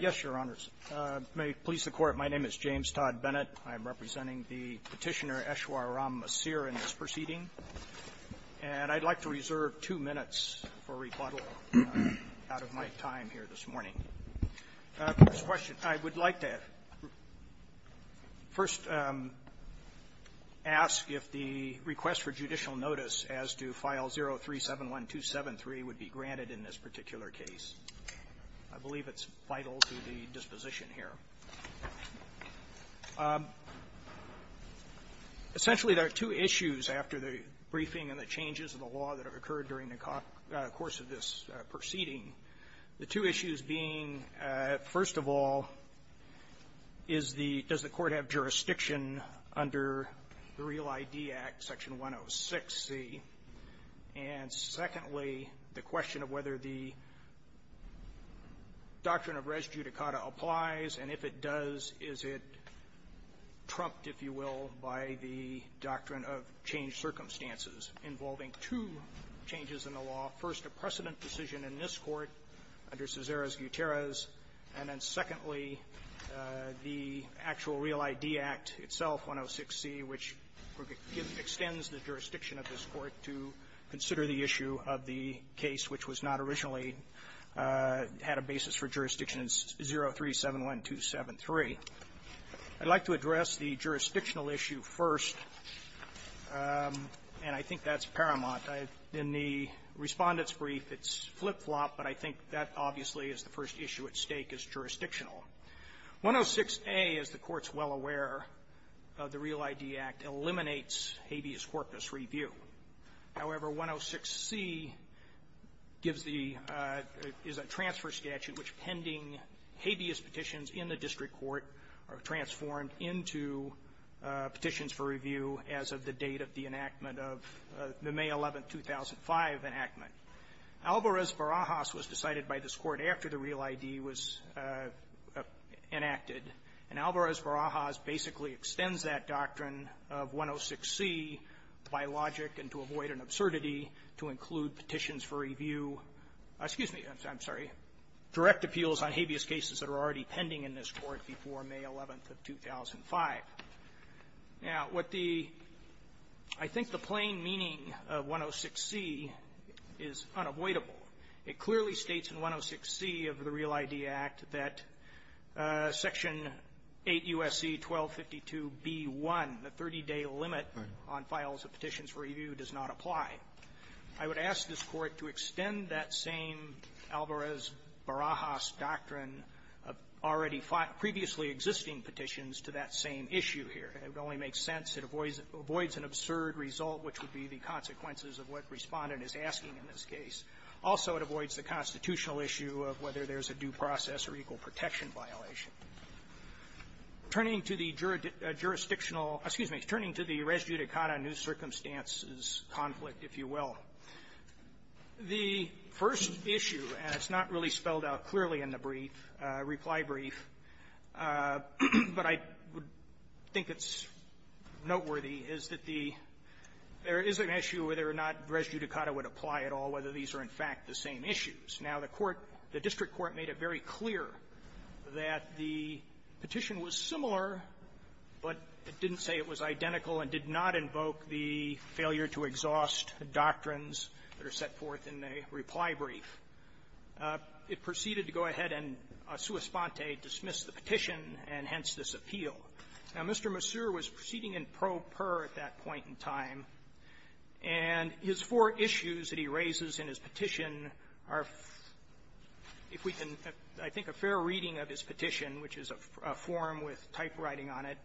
Yes, Your Honors. May it please the Court, my name is James Todd Bennett. I'm representing the Petitioner Eshwar Ram Misir in this proceeding. And I'd like to reserve two minutes for rebuttal out of my time here this morning. First question, I would like to first ask if the request for judicial notice as to File 0371273 would be granted in this particular case. I believe it's vital to the disposition here. Essentially, there are two issues after the briefing and the changes in the law that have occurred during the course of this proceeding. The two issues being, first of all, is the – does the Court have jurisdiction under the Real ID Act, Section 106C? And secondly, the question of whether the doctrine of res judicata applies, and if it does, is it trumped, if you will, by the doctrine of changed circumstances involving two changes in the law, first, a precedent decision in this Court under Cesares-Gutierrez, and then secondly, the actual Real ID Act itself, 106C, which extends the jurisdiction of this Court to consider the issue of the case which was not originally – had a basis for jurisdiction 0371273. I'd like to address the jurisdictional issue first, and I think that's paramount. In the Respondent's brief, it's flip-flop, but I think that obviously is the first issue at stake is jurisdictional. 106A, as the Court's well aware of the Real ID Act, eliminates habeas corpus review. However, 106C gives the – is a transfer statute in which pending habeas petitions in the district court are transformed into petitions for review as of the date of the enactment of the May 11, 2005, enactment. Alvarez-Barajas was decided by this Court after the Real ID was enacted, and Alvarez-Barajas basically extends that doctrine of 106C by logic and to avoid an absurdity to include petitions for review – excuse me, I'm sorry – direct appeals on habeas cases that are already pending in this Court before May 11th of 2005. Now, what the – I think the plain meaning of 106C is unavoidable. It clearly states in 106C of the Real ID Act that Section 8 U.S.C. 1252b1, the 30-day limit on files of petitions for review, does not apply. I would ask this Court to extend that same Alvarez-Barajas doctrine of already previously existing petitions to that same issue here. It would only make sense. It avoids an absurd result, which would be the consequences of what Respondent is asking in this case. Also, it avoids the constitutional issue of whether there is a due process or equal protection violation. Turning to the jurisdictional – excuse me, turning to the res judicata, new circumstances conflict, if you will. The first issue, and it's not really spelled out clearly in the brief, reply brief, but I would think it's noteworthy, is that the – there is an issue whether or not res judicata would apply at all, whether these are, in fact, the same issues. Now, the Court – the district court made it very clear that the petition was similar, but it didn't say it was identical and did not invoke the failure-to-exhaust doctrines that are set forth in the reply brief. It proceeded to go ahead and sua sponte, dismiss the petition, and hence this appeal. Now, Mr. Massur was proceeding in pro per at that point in time, and his four issues that he raises in his petition are, if we can, I think, a fair reading of his petition, which is a form with typewriters writing on it,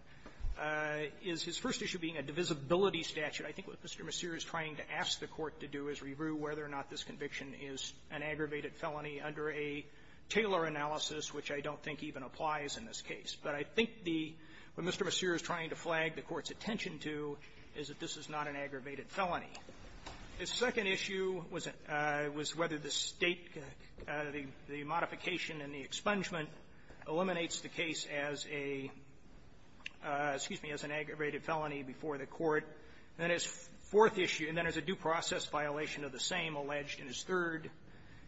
is his first issue being a divisibility statute. I think what Mr. Massur is trying to ask the Court to do is review whether or not this conviction is an aggravated felony under a Taylor analysis, which I don't think even applies in this case. But I think the – what Mr. Massur is trying to flag the Court's attention to is that this is not an aggravated felony. His second issue was whether the State – the modification and the expungement eliminates the case as a – excuse me, as an aggravated felony before the Court. And then his fourth issue, and then there's a due process violation of the same alleged in his third.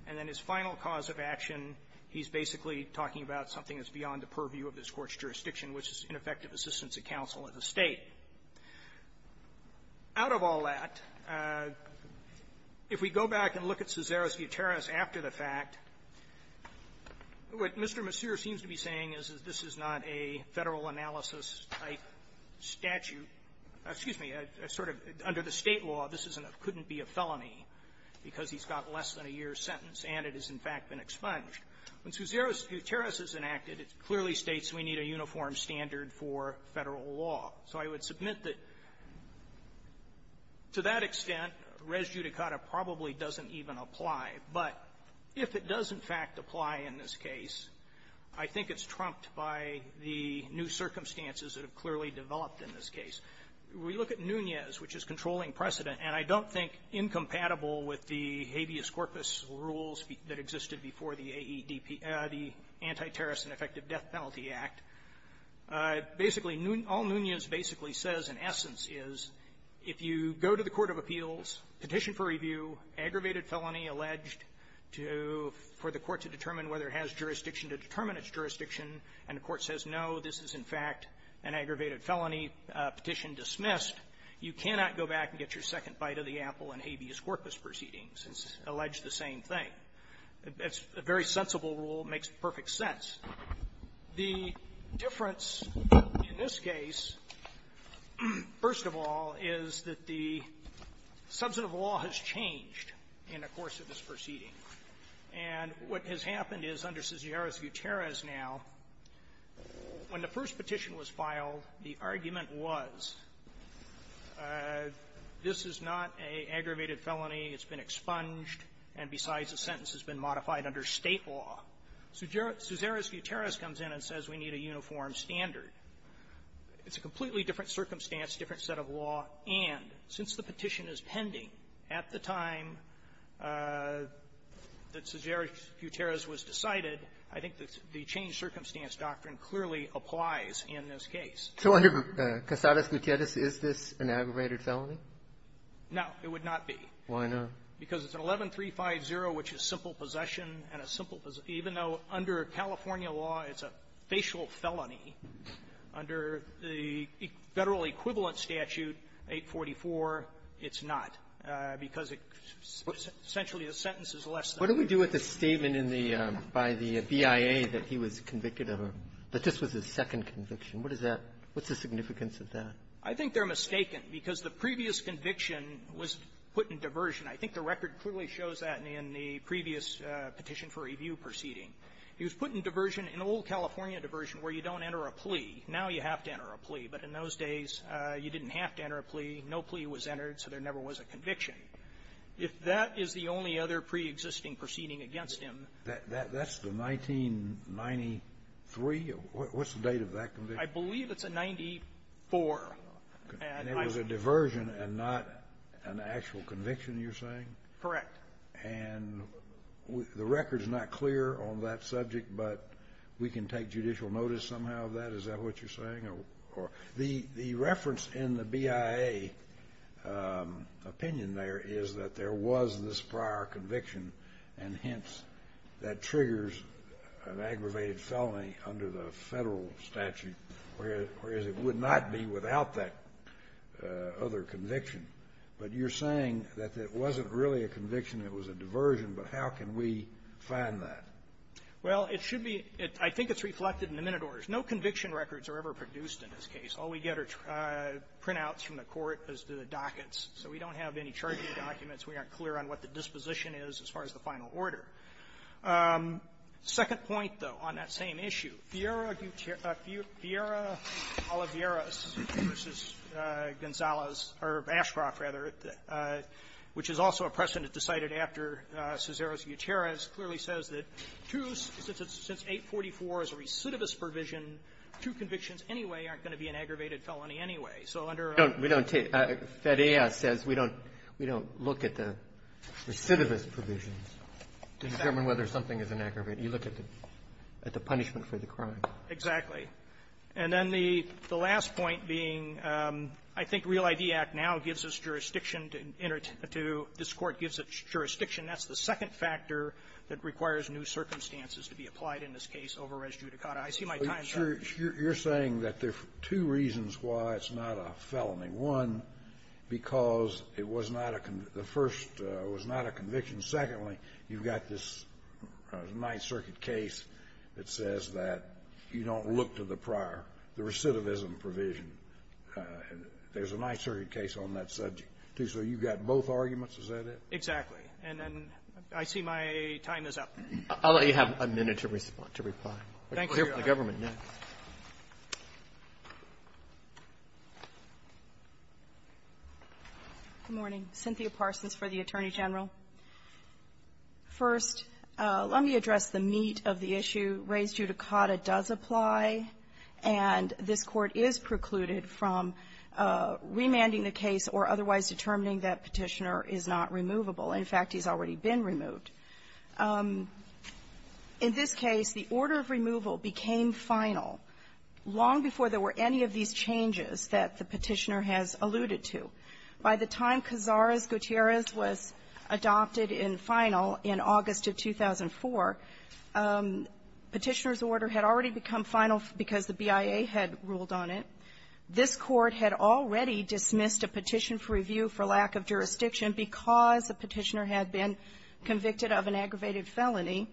And then his final cause of action, he's basically talking about something that's beyond the purview of this Court's jurisdiction, which is ineffective assistance of counsel at the State. Out of all that, if we go back and look at Cesaro's to be saying is, is this is not a Federal analysis-type statute – excuse me, a sort of – under the State law, this isn't – couldn't be a felony because he's got less than a year's sentence, and it has, in fact, been expunged. When Cesaro's deterrence is enacted, it clearly states we need a uniform standard for Federal law. So I would submit that, to that extent, res judicata probably doesn't even apply. But if it does, in fact, apply in this case, I think it's trumped by the new circumstances that have clearly developed in this case. We look at Nunez, which is controlling precedent, and I don't think incompatible with the habeas corpus rules that existed before the AEDP – the Anti-Terrorist and Effective Death Penalty Act. Basically, all Nunez basically says in essence is if you go to the court of appeals, petition for review, aggravated felony alleged to – for the court to determine whether it has jurisdiction to determine its jurisdiction, and the court says, no, this is, in fact, an aggravated felony petition dismissed, you cannot go back and get your second bite of the apple in habeas corpus proceedings. It's alleged the same thing. It's a very sensible rule. It makes perfect sense. The difference in this case, first of all, is that the substantive law has changed in the course of this proceeding. And what has happened is under Cesaris-Guterres now, when the first petition was filed, the argument was, this is not an aggravated felony. It's been expunged, and besides, the sentence has been modified under State law. Cesaris-Guterres comes in and says we need a uniform standard. It's a completely different circumstance, different set of law, and since the petition is pending at the time that Cesaris-Guterres was decided, I think that the changed-circumstance doctrine clearly applies in this case. So under Cesaris-Guterres, is this an aggravated felony? No, it would not be. Why not? Because it's an 11-350, which is simple possession, and a simple --" even though under California law, it's a facial felony, under the Federal Equivalent Statute 844, it's not, because it's essentially a sentence that's less than that. What do we do with the statement in the by the BIA that he was convicted of a --" that this was his second conviction? What is that? What's the significance of that? I think they're mistaken, because the previous conviction was put in diversion. I think the record clearly shows that in the previous Petition for Review proceeding. He was put in diversion, in old California diversion, where you don't enter a plea. Now you have to enter a plea. But in those days, you didn't have to enter a plea. No plea was entered, so there never was a conviction. If that is the only other preexisting proceeding against him --" That's the 1993? What's the date of that conviction? I believe it's a 94. And it was a diversion and not an actual conviction, you're saying? Correct. And the record's not clear on that subject, but we can take judicial notice somehow of that? Is that what you're saying? The reference in the BIA opinion there is that there was this prior conviction, and hence, that triggers an aggravated felony under the Federal statute, whereas it would not be without that other conviction. But you're saying that it wasn't really a conviction, it was a diversion, but how can we find that? Well, it should be --" I think it's reflected in the minute orders. No conviction records are ever produced in this case. All we get are printouts from the court as to the dockets. So we don't have any charging documents. We aren't clear on what the disposition is as far as the final order. Second point, though, on that same issue, Fiera Gutierrez vs. Gonzales, or Ashcroft, rather, which is also a precedent decided after Cesares-Gutierrez, clearly says that two since 844 is a recidivist provision, two convictions anyway aren't going to be an aggravated felony anyway. So under a ---- We don't take that. FED-AS says we don't look at the recidivist provisions to determine whether something is an aggravated. You look at the punishment for the crime. Exactly. And then the last point being, I think Real ID Act now gives us jurisdiction to enter to this Court gives us jurisdiction. That's the second factor that requires new circumstances to be applied in this case over res judicata. I see my time's up. You're saying that there's two reasons why it's not a felony. One, because it was not a conviction. The first was not a conviction. Secondly, you've got this Ninth Circuit case that says that you don't look to the prior, the recidivism provision. There's a Ninth Circuit case on that subject, too. So you've got both arguments? Is that it? Exactly. And then I see my time is up. I'll let you have a minute to respond, to reply. Thank you, Your Honor. We'll hear from the government next. Good morning. Cynthia Parsons for the Attorney General. First, let me address the meat of the issue. Res judicata does apply, and this Court is precluded from remanding the case or otherwise determining that Petitioner is not removable. In fact, he's already been removed. In this case, the order of removal became final long before there were any of these changes that the Petitioner has alluded to. By the time Cazares-Gutierrez was adopted in final in August of 2004, Petitioner's order had already become final because the BIA had ruled on it. This Court had already dismissed a petition for review for lack of jurisdiction because the Petitioner had been convicted of an aggravated felony.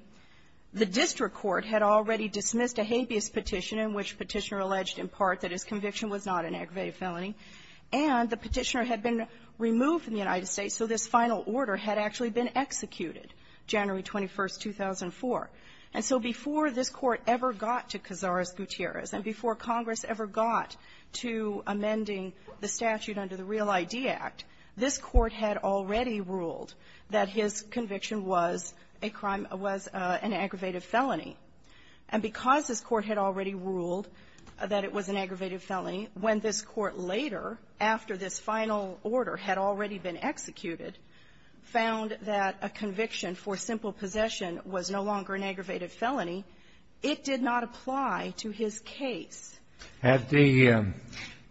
The district court had already dismissed a habeas petition in which Petitioner alleged in part that his conviction was not an aggravated felony, and the Petitioner had been removed from the United States, so this final order had actually been executed January 21st, 2004. And so before this Court ever got to Cazares-Gutierrez and before Congress ever got to amending the statute under the Real ID Act, this Court had already ruled that his conviction was a crime of an aggravated felony. And because this Court had already ruled that it was an aggravated felony, when this Court later, after this final order had already been executed, found that a conviction for simple possession was no longer an aggravated felony, it did not apply to his case. Had the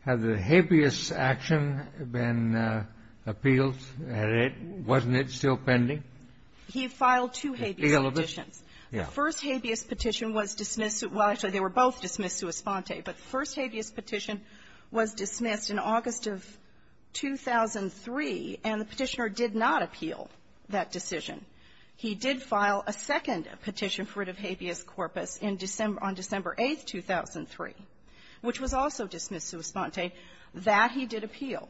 habeas action been appealed? Wasn't it still pending? He filed two habeas petitions. The first habeas petition was dismissed. Well, actually, they were both dismissed sua sponte. But the first habeas petition was dismissed in August of 2003, and the Petitioner did not appeal that decision. He did file a second petition for writ of habeas corpus on December 8th, 2003. Which was also dismissed sua sponte. That, he did appeal.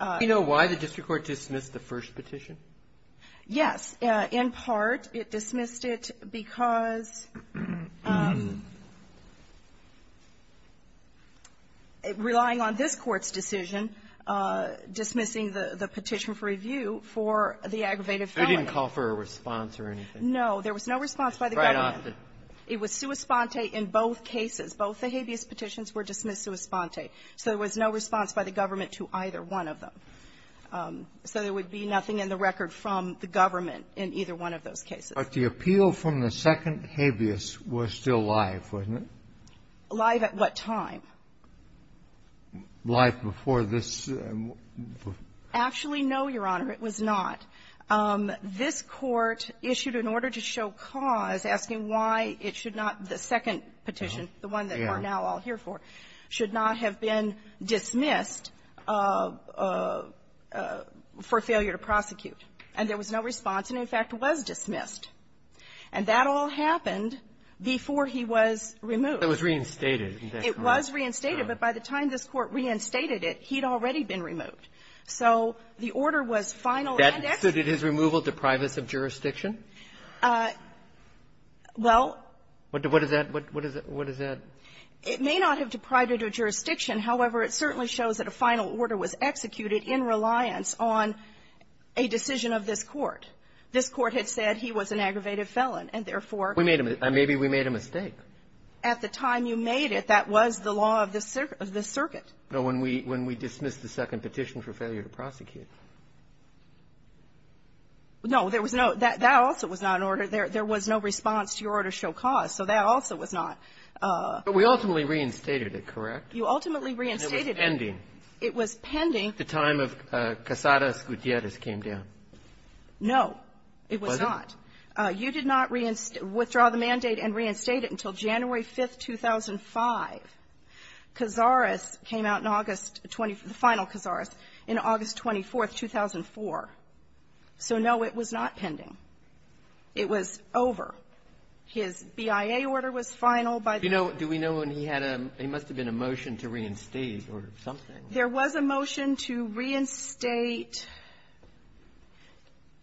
Do you know why the district court dismissed the first petition? Yes. In part, it dismissed it because, relying on this Court's decision, dismissing the petition for review for the aggravated felony. So it didn't call for a response or anything? No. There was no response by the government. Quite often. It was sua sponte in both cases. Both the habeas petitions were dismissed sua sponte. So there was no response by the government to either one of them. So there would be nothing in the record from the government in either one of those cases. But the appeal from the second habeas was still live, wasn't it? Live at what time? Live before this. Actually, no, Your Honor. It was not. This Court issued an order to show cause, asking why it should not the second petition, the one that we're now all here for, should not have been dismissed for failure to prosecute. And there was no response, and, in fact, was dismissed. And that all happened before he was removed. It was reinstated, isn't that correct? It was reinstated. But by the time this Court reinstated it, he'd already been removed. So the order was final and executive. So did his removal deprive us of jurisdiction? Well What does that What does that It may not have deprived it of jurisdiction. However, it certainly shows that a final order was executed in reliance on a decision of this Court. This Court had said he was an aggravated felon, and, therefore, We made a mistake. Maybe we made a mistake. At the time you made it, that was the law of this circuit. No, when we dismissed the second petition for failure to prosecute. No, there was no That also was not an order. There was no response to your order to show cause. So that also was not. But we ultimately reinstated it, correct? You ultimately reinstated it. And it was pending. It was pending. The time of Casares Gutierrez came down. No. It was not. You did not withdraw the mandate and reinstate it until January 5th, 2005. Casares came out in August 20th, the final Casares, in August 24th, 2004. So, no, it was not pending. It was over. His BIA order was final by the Do we know when he had a He must have been a motion to reinstate or something. There was a motion to reinstate.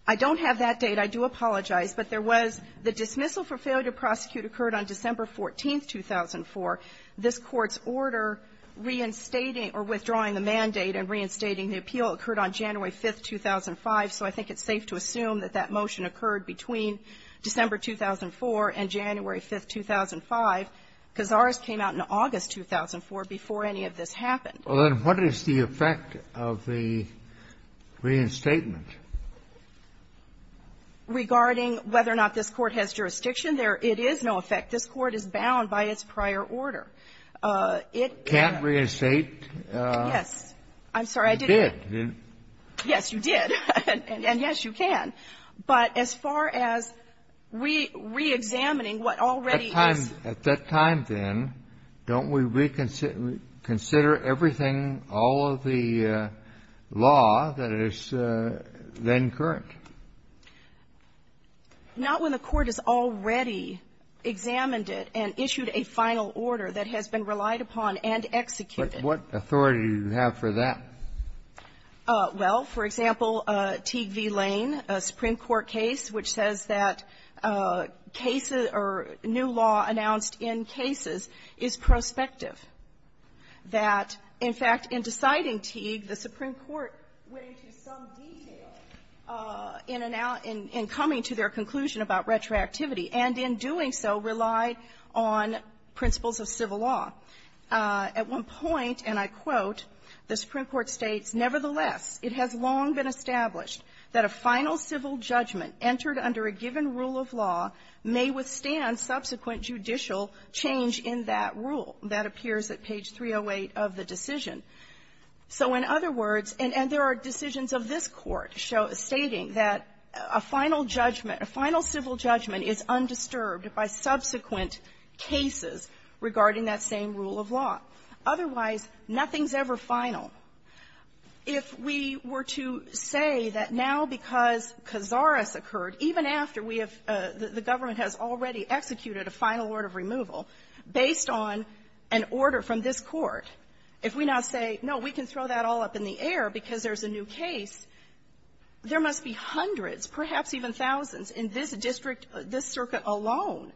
I don't have that date. I do apologize. But there was the dismissal for failure to prosecute occurred on December 14, 2004. This Court's order reinstating or withdrawing the mandate and reinstating the appeal occurred on January 5th, 2005. So I think it's safe to assume that that motion occurred between December 2004 and January 5th, 2005. Casares came out in August 2004 before any of this happened. Well, then, what is the effect of the reinstatement? Regarding whether or not this Court has jurisdiction, there it is no effect. This Court is bound by its prior order. It can't reinstate. Yes. I'm sorry. I didn't. You did. Yes, you did. And, yes, you can. But as far as reexamining what already is At that time, then, don't we reconsider everything, all of the law that is then current? Not when the Court has already examined it and issued a final order that has been relied upon and executed. But what authority do you have for that? Well, for example, Teague v. Lane, a Supreme Court case which says that cases or new law announced in cases is prospective, that, in fact, in deciding Teague, the Supreme Court went into some detail in coming to their conclusion about retroactivity and, in doing so, relied on principles of civil law. At one point, and I quote, the Supreme Court states, Nevertheless, it has long been established that a final civil judgment entered under a given rule of law may withstand subsequent judicial change in that rule. That appears at page 308 of the decision. So, in other words, and there are decisions of this Court stating that a final judgment, a final civil judgment is undisturbed by subsequent cases regarding that same rule of law. Otherwise, nothing's ever final. If we were to say that now, because Cazares occurred, even after we have the government has already executed a final order of removal, based on an order from this Court, if we now say that, no, we can throw that all up in the air because there's a new case, there must be hundreds, perhaps even thousands, in this district, this circuit alone,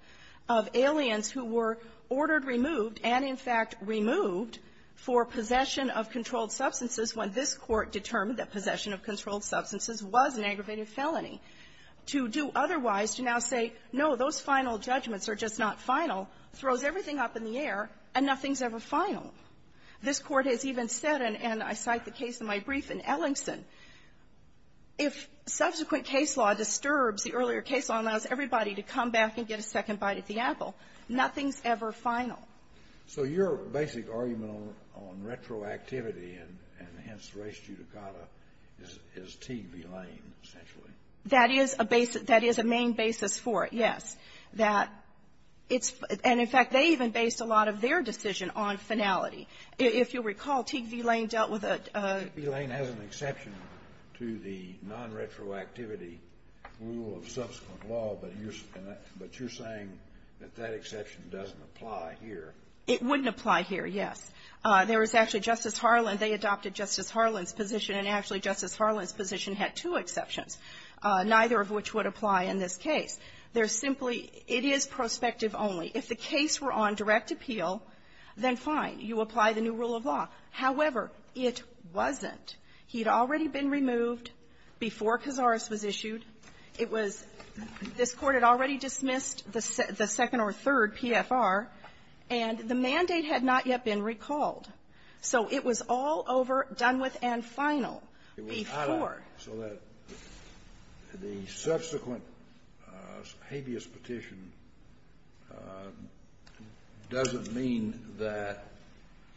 of aliens who were ordered removed and, in fact, removed for possession of controlled substances when this Court determined that possession of controlled substances was an aggravated felony, to do otherwise, to now say, no, those final judgments are just not final, throws everything up in the air, and nothing's ever final. This Court has even said, and I cite the case in my brief in Ellingson, if subsequent case law disturbs the earlier case law and allows everybody to come back and get a second bite at the apple, nothing's ever final. So your basic argument on retroactivity and, hence, res judicata, is Teague v. Lane, essentially. That is a basic — that is a main basis for it, yes. That it's — and, in fact, they even based a lot of their decision on finality. If you'll recall, Teague v. Lane dealt with a — Kennedy. Teague v. Lane has an exception to the non-retroactivity rule of subsequent law, but you're saying that that exception doesn't apply here. It wouldn't apply here, yes. There was actually Justice Harlan. They adopted Justice Harlan's position, and actually Justice Harlan's position had two exceptions, neither of which would apply in this case. They're simply — it is prospective only. If the case were on direct appeal, then fine. You apply the new rule of law. However, it wasn't. He'd already been removed before Cazares was issued. It was — this Court had already dismissed the second or third PFR, and the mandate had not yet been recalled. So it was all over, done with, and final before. So that the subsequent habeas petition doesn't mean that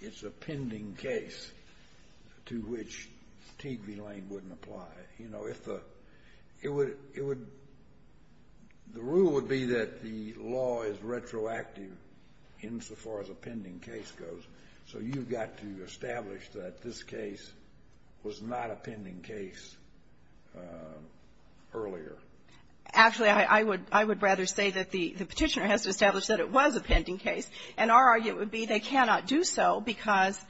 it's a pending case to which Teague v. Lane wouldn't apply. You know, if the — it would — the rule would be that the law is retroactive insofar as a pending case goes. So you've got to establish that this case was not a pending case earlier. Actually, I would — I would rather say that the Petitioner has to establish that it was a pending case. And our argument would be they cannot do so because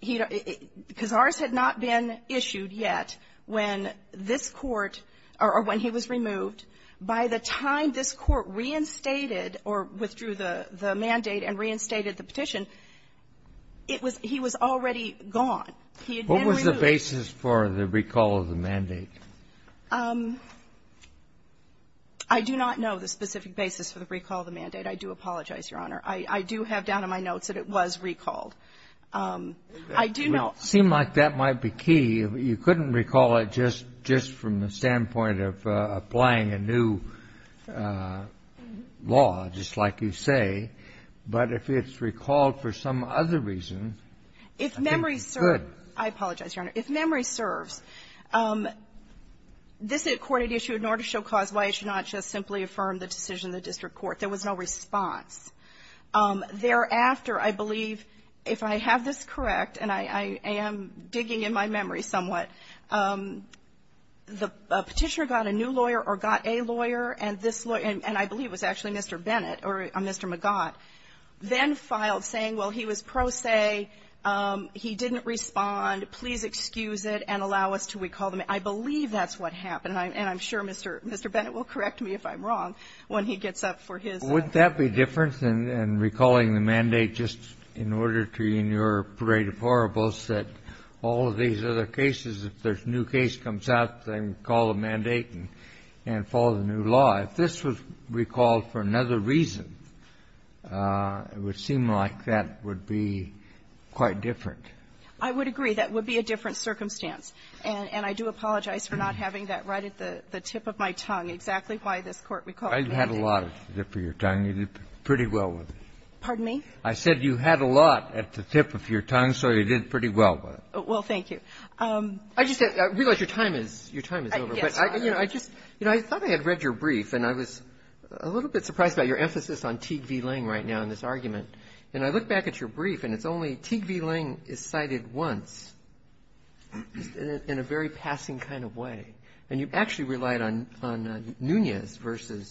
he — because Cazares had not been issued yet when this Court — or when he was removed. By the time this Court reinstated or withdrew the mandate and reinstated the petition, it was — he was already gone. He had been removed. What was the basis for the recall of the mandate? I do not know the specific basis for the recall of the mandate. I do apologize, Your Honor. I do have down in my notes that it was recalled. I do know — It would seem like that might be key. You couldn't recall it just — just from the standpoint of applying a new law, just like you say. But if it's recalled for some other reason, I think it's good. I apologize, Your Honor. If memory serves, this Court had issued an order to show cause why it should not just simply affirm the decision of the district court. There was no response. Thereafter, I believe, if I have this correct, and I am digging in my memory somewhat, the Petitioner got a new lawyer or got a lawyer, and this lawyer — and I believe it was actually Mr. Bennett or Mr. McGott — then filed, saying, well, he was pro se. He didn't respond. Please excuse it and allow us to recall the mandate. I believe that's what happened. And I'm sure Mr. Bennett will correct me if I'm wrong when he gets up for his — Wouldn't that be different than recalling the mandate just in order to, in your Parade of Horribles, that all of these other cases, if there's a new case comes out, they can call a mandate and follow the new law. If this was recalled for another reason, it would seem like that would be quite different. I would agree. That would be a different circumstance. And I do apologize for not having that right at the tip of my tongue, exactly why this Court recalled the mandate. I had a lot at the tip of your tongue. You did pretty well with it. Pardon me? I said you had a lot at the tip of your tongue, so you did pretty well with it. Well, thank you. I just said, I realize your time is — your time is over. Yes. I just — you know, I thought I had read your brief, and I was a little bit surprised about your emphasis on Teague v. Lange right now in this argument. And I look back at your brief, and it's only Teague v. Lange is cited once in a very passing kind of way. And you actually relied on Nunez v.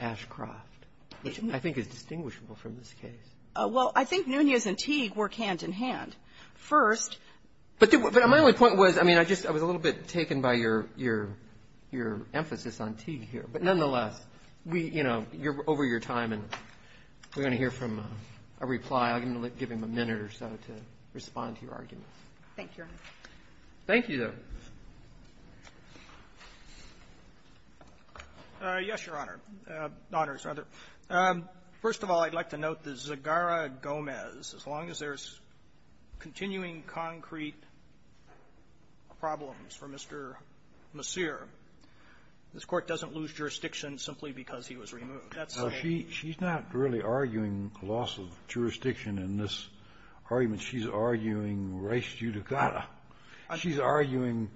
Ashcroft, which I think is distinguishable from this case. Well, I think Nunez and Teague work hand in hand. First — But my only point was, I mean, I just — I was a little bit taken by your — your emphasis on Teague here. But nonetheless, we — you know, over your time, and we're going to hear from a reply. I'm going to give him a minute or so to respond to your arguments. Thank you, Your Honor. Thank you, though. Yes, Your Honor. First of all, I'd like to note that Zegarra-Gomez, as long as there's continuing concrete problems for Mr. Messier, this Court doesn't lose jurisdiction simply because he was removed. She's not really arguing loss of jurisdiction in this argument. She's arguing res judicata. She's arguing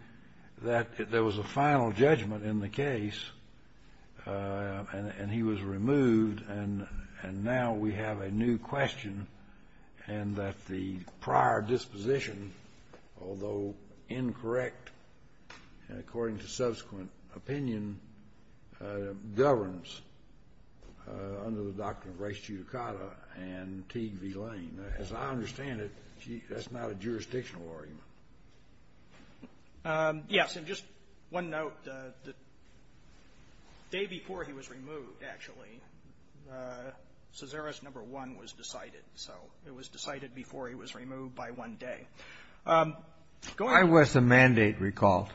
that there was a final judgment in the case, and he was removed, and now we have a new question, and that the prior disposition, although incorrect and according to subsequent opinion, governs under the doctrine of res judicata and Teague v. Lane. As I understand it, that's not a jurisdictional argument. Yes. And just one note. The day before he was removed, actually, Cesare's number one was decided. So it was decided before he was removed by one day. I was the mandate recalled.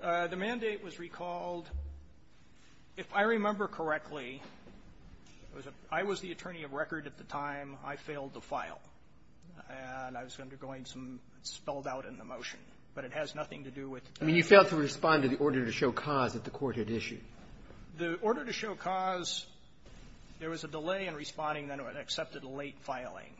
The mandate was recalled. If I remember correctly, I was the attorney of record at the time I failed the file. And I was undergoing some spelled out in the motion. But it has nothing to do with the day before. I mean, you failed to respond to the order to show cause that the Court had issued. The order to show cause, there was a delay in responding, and I accepted a late filing.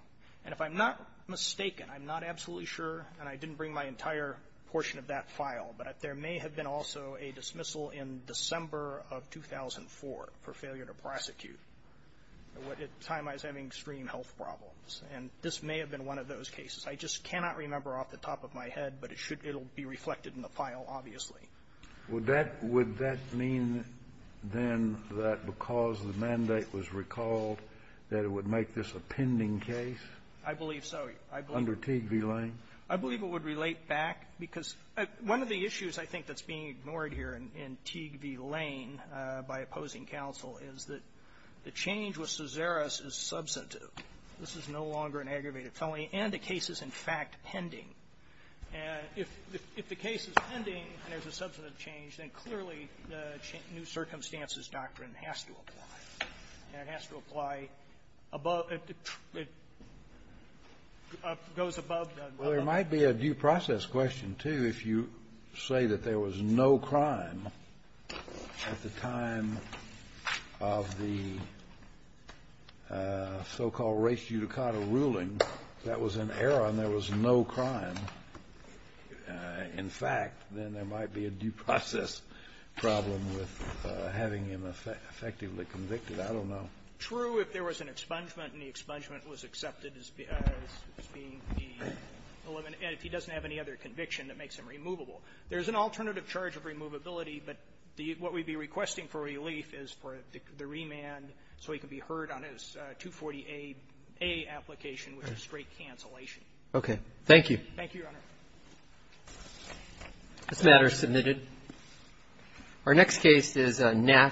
And if I'm not mistaken, I'm not absolutely sure, and I didn't bring my entire portion of that file, but there may have been also a dismissal in December of 2004 for failure to prosecute at a time I was having extreme health problems. And this may have been one of those cases. I just cannot remember off the top of my head, but it should be reflected in the file, obviously. Kennedy. Would that mean, then, that because the mandate was recalled, that it would make this a pending case? I believe so. Under Teague v. Lane? I believe it would relate back, because one of the issues I think that's being ignored here in Teague v. Lane by opposing counsel is that the change with Cesare's is substantive. This is no longer an aggravated felony, and the case is, in fact, pending. And if the case is pending and there's a substantive change, then clearly the new circumstances doctrine has to apply. And it has to apply above the goes above the Well, there might be a due process question, too, if you say that there was no crime at the time of the so-called race euticado ruling. That was an error and there was no crime. In fact, then there might be a due process problem with having him effectively convicted. I don't know. True, if there was an expungement and the expungement was accepted as being the element, and if he doesn't have any other conviction that makes him removable. There's an alternative charge of removability, but what we'd be requesting for relief is for the remand so he could be heard on his 240A application, which is straight cancellation. Okay. Thank you. Thank you, Your Honor. This matter is submitted. Our next case is Nass.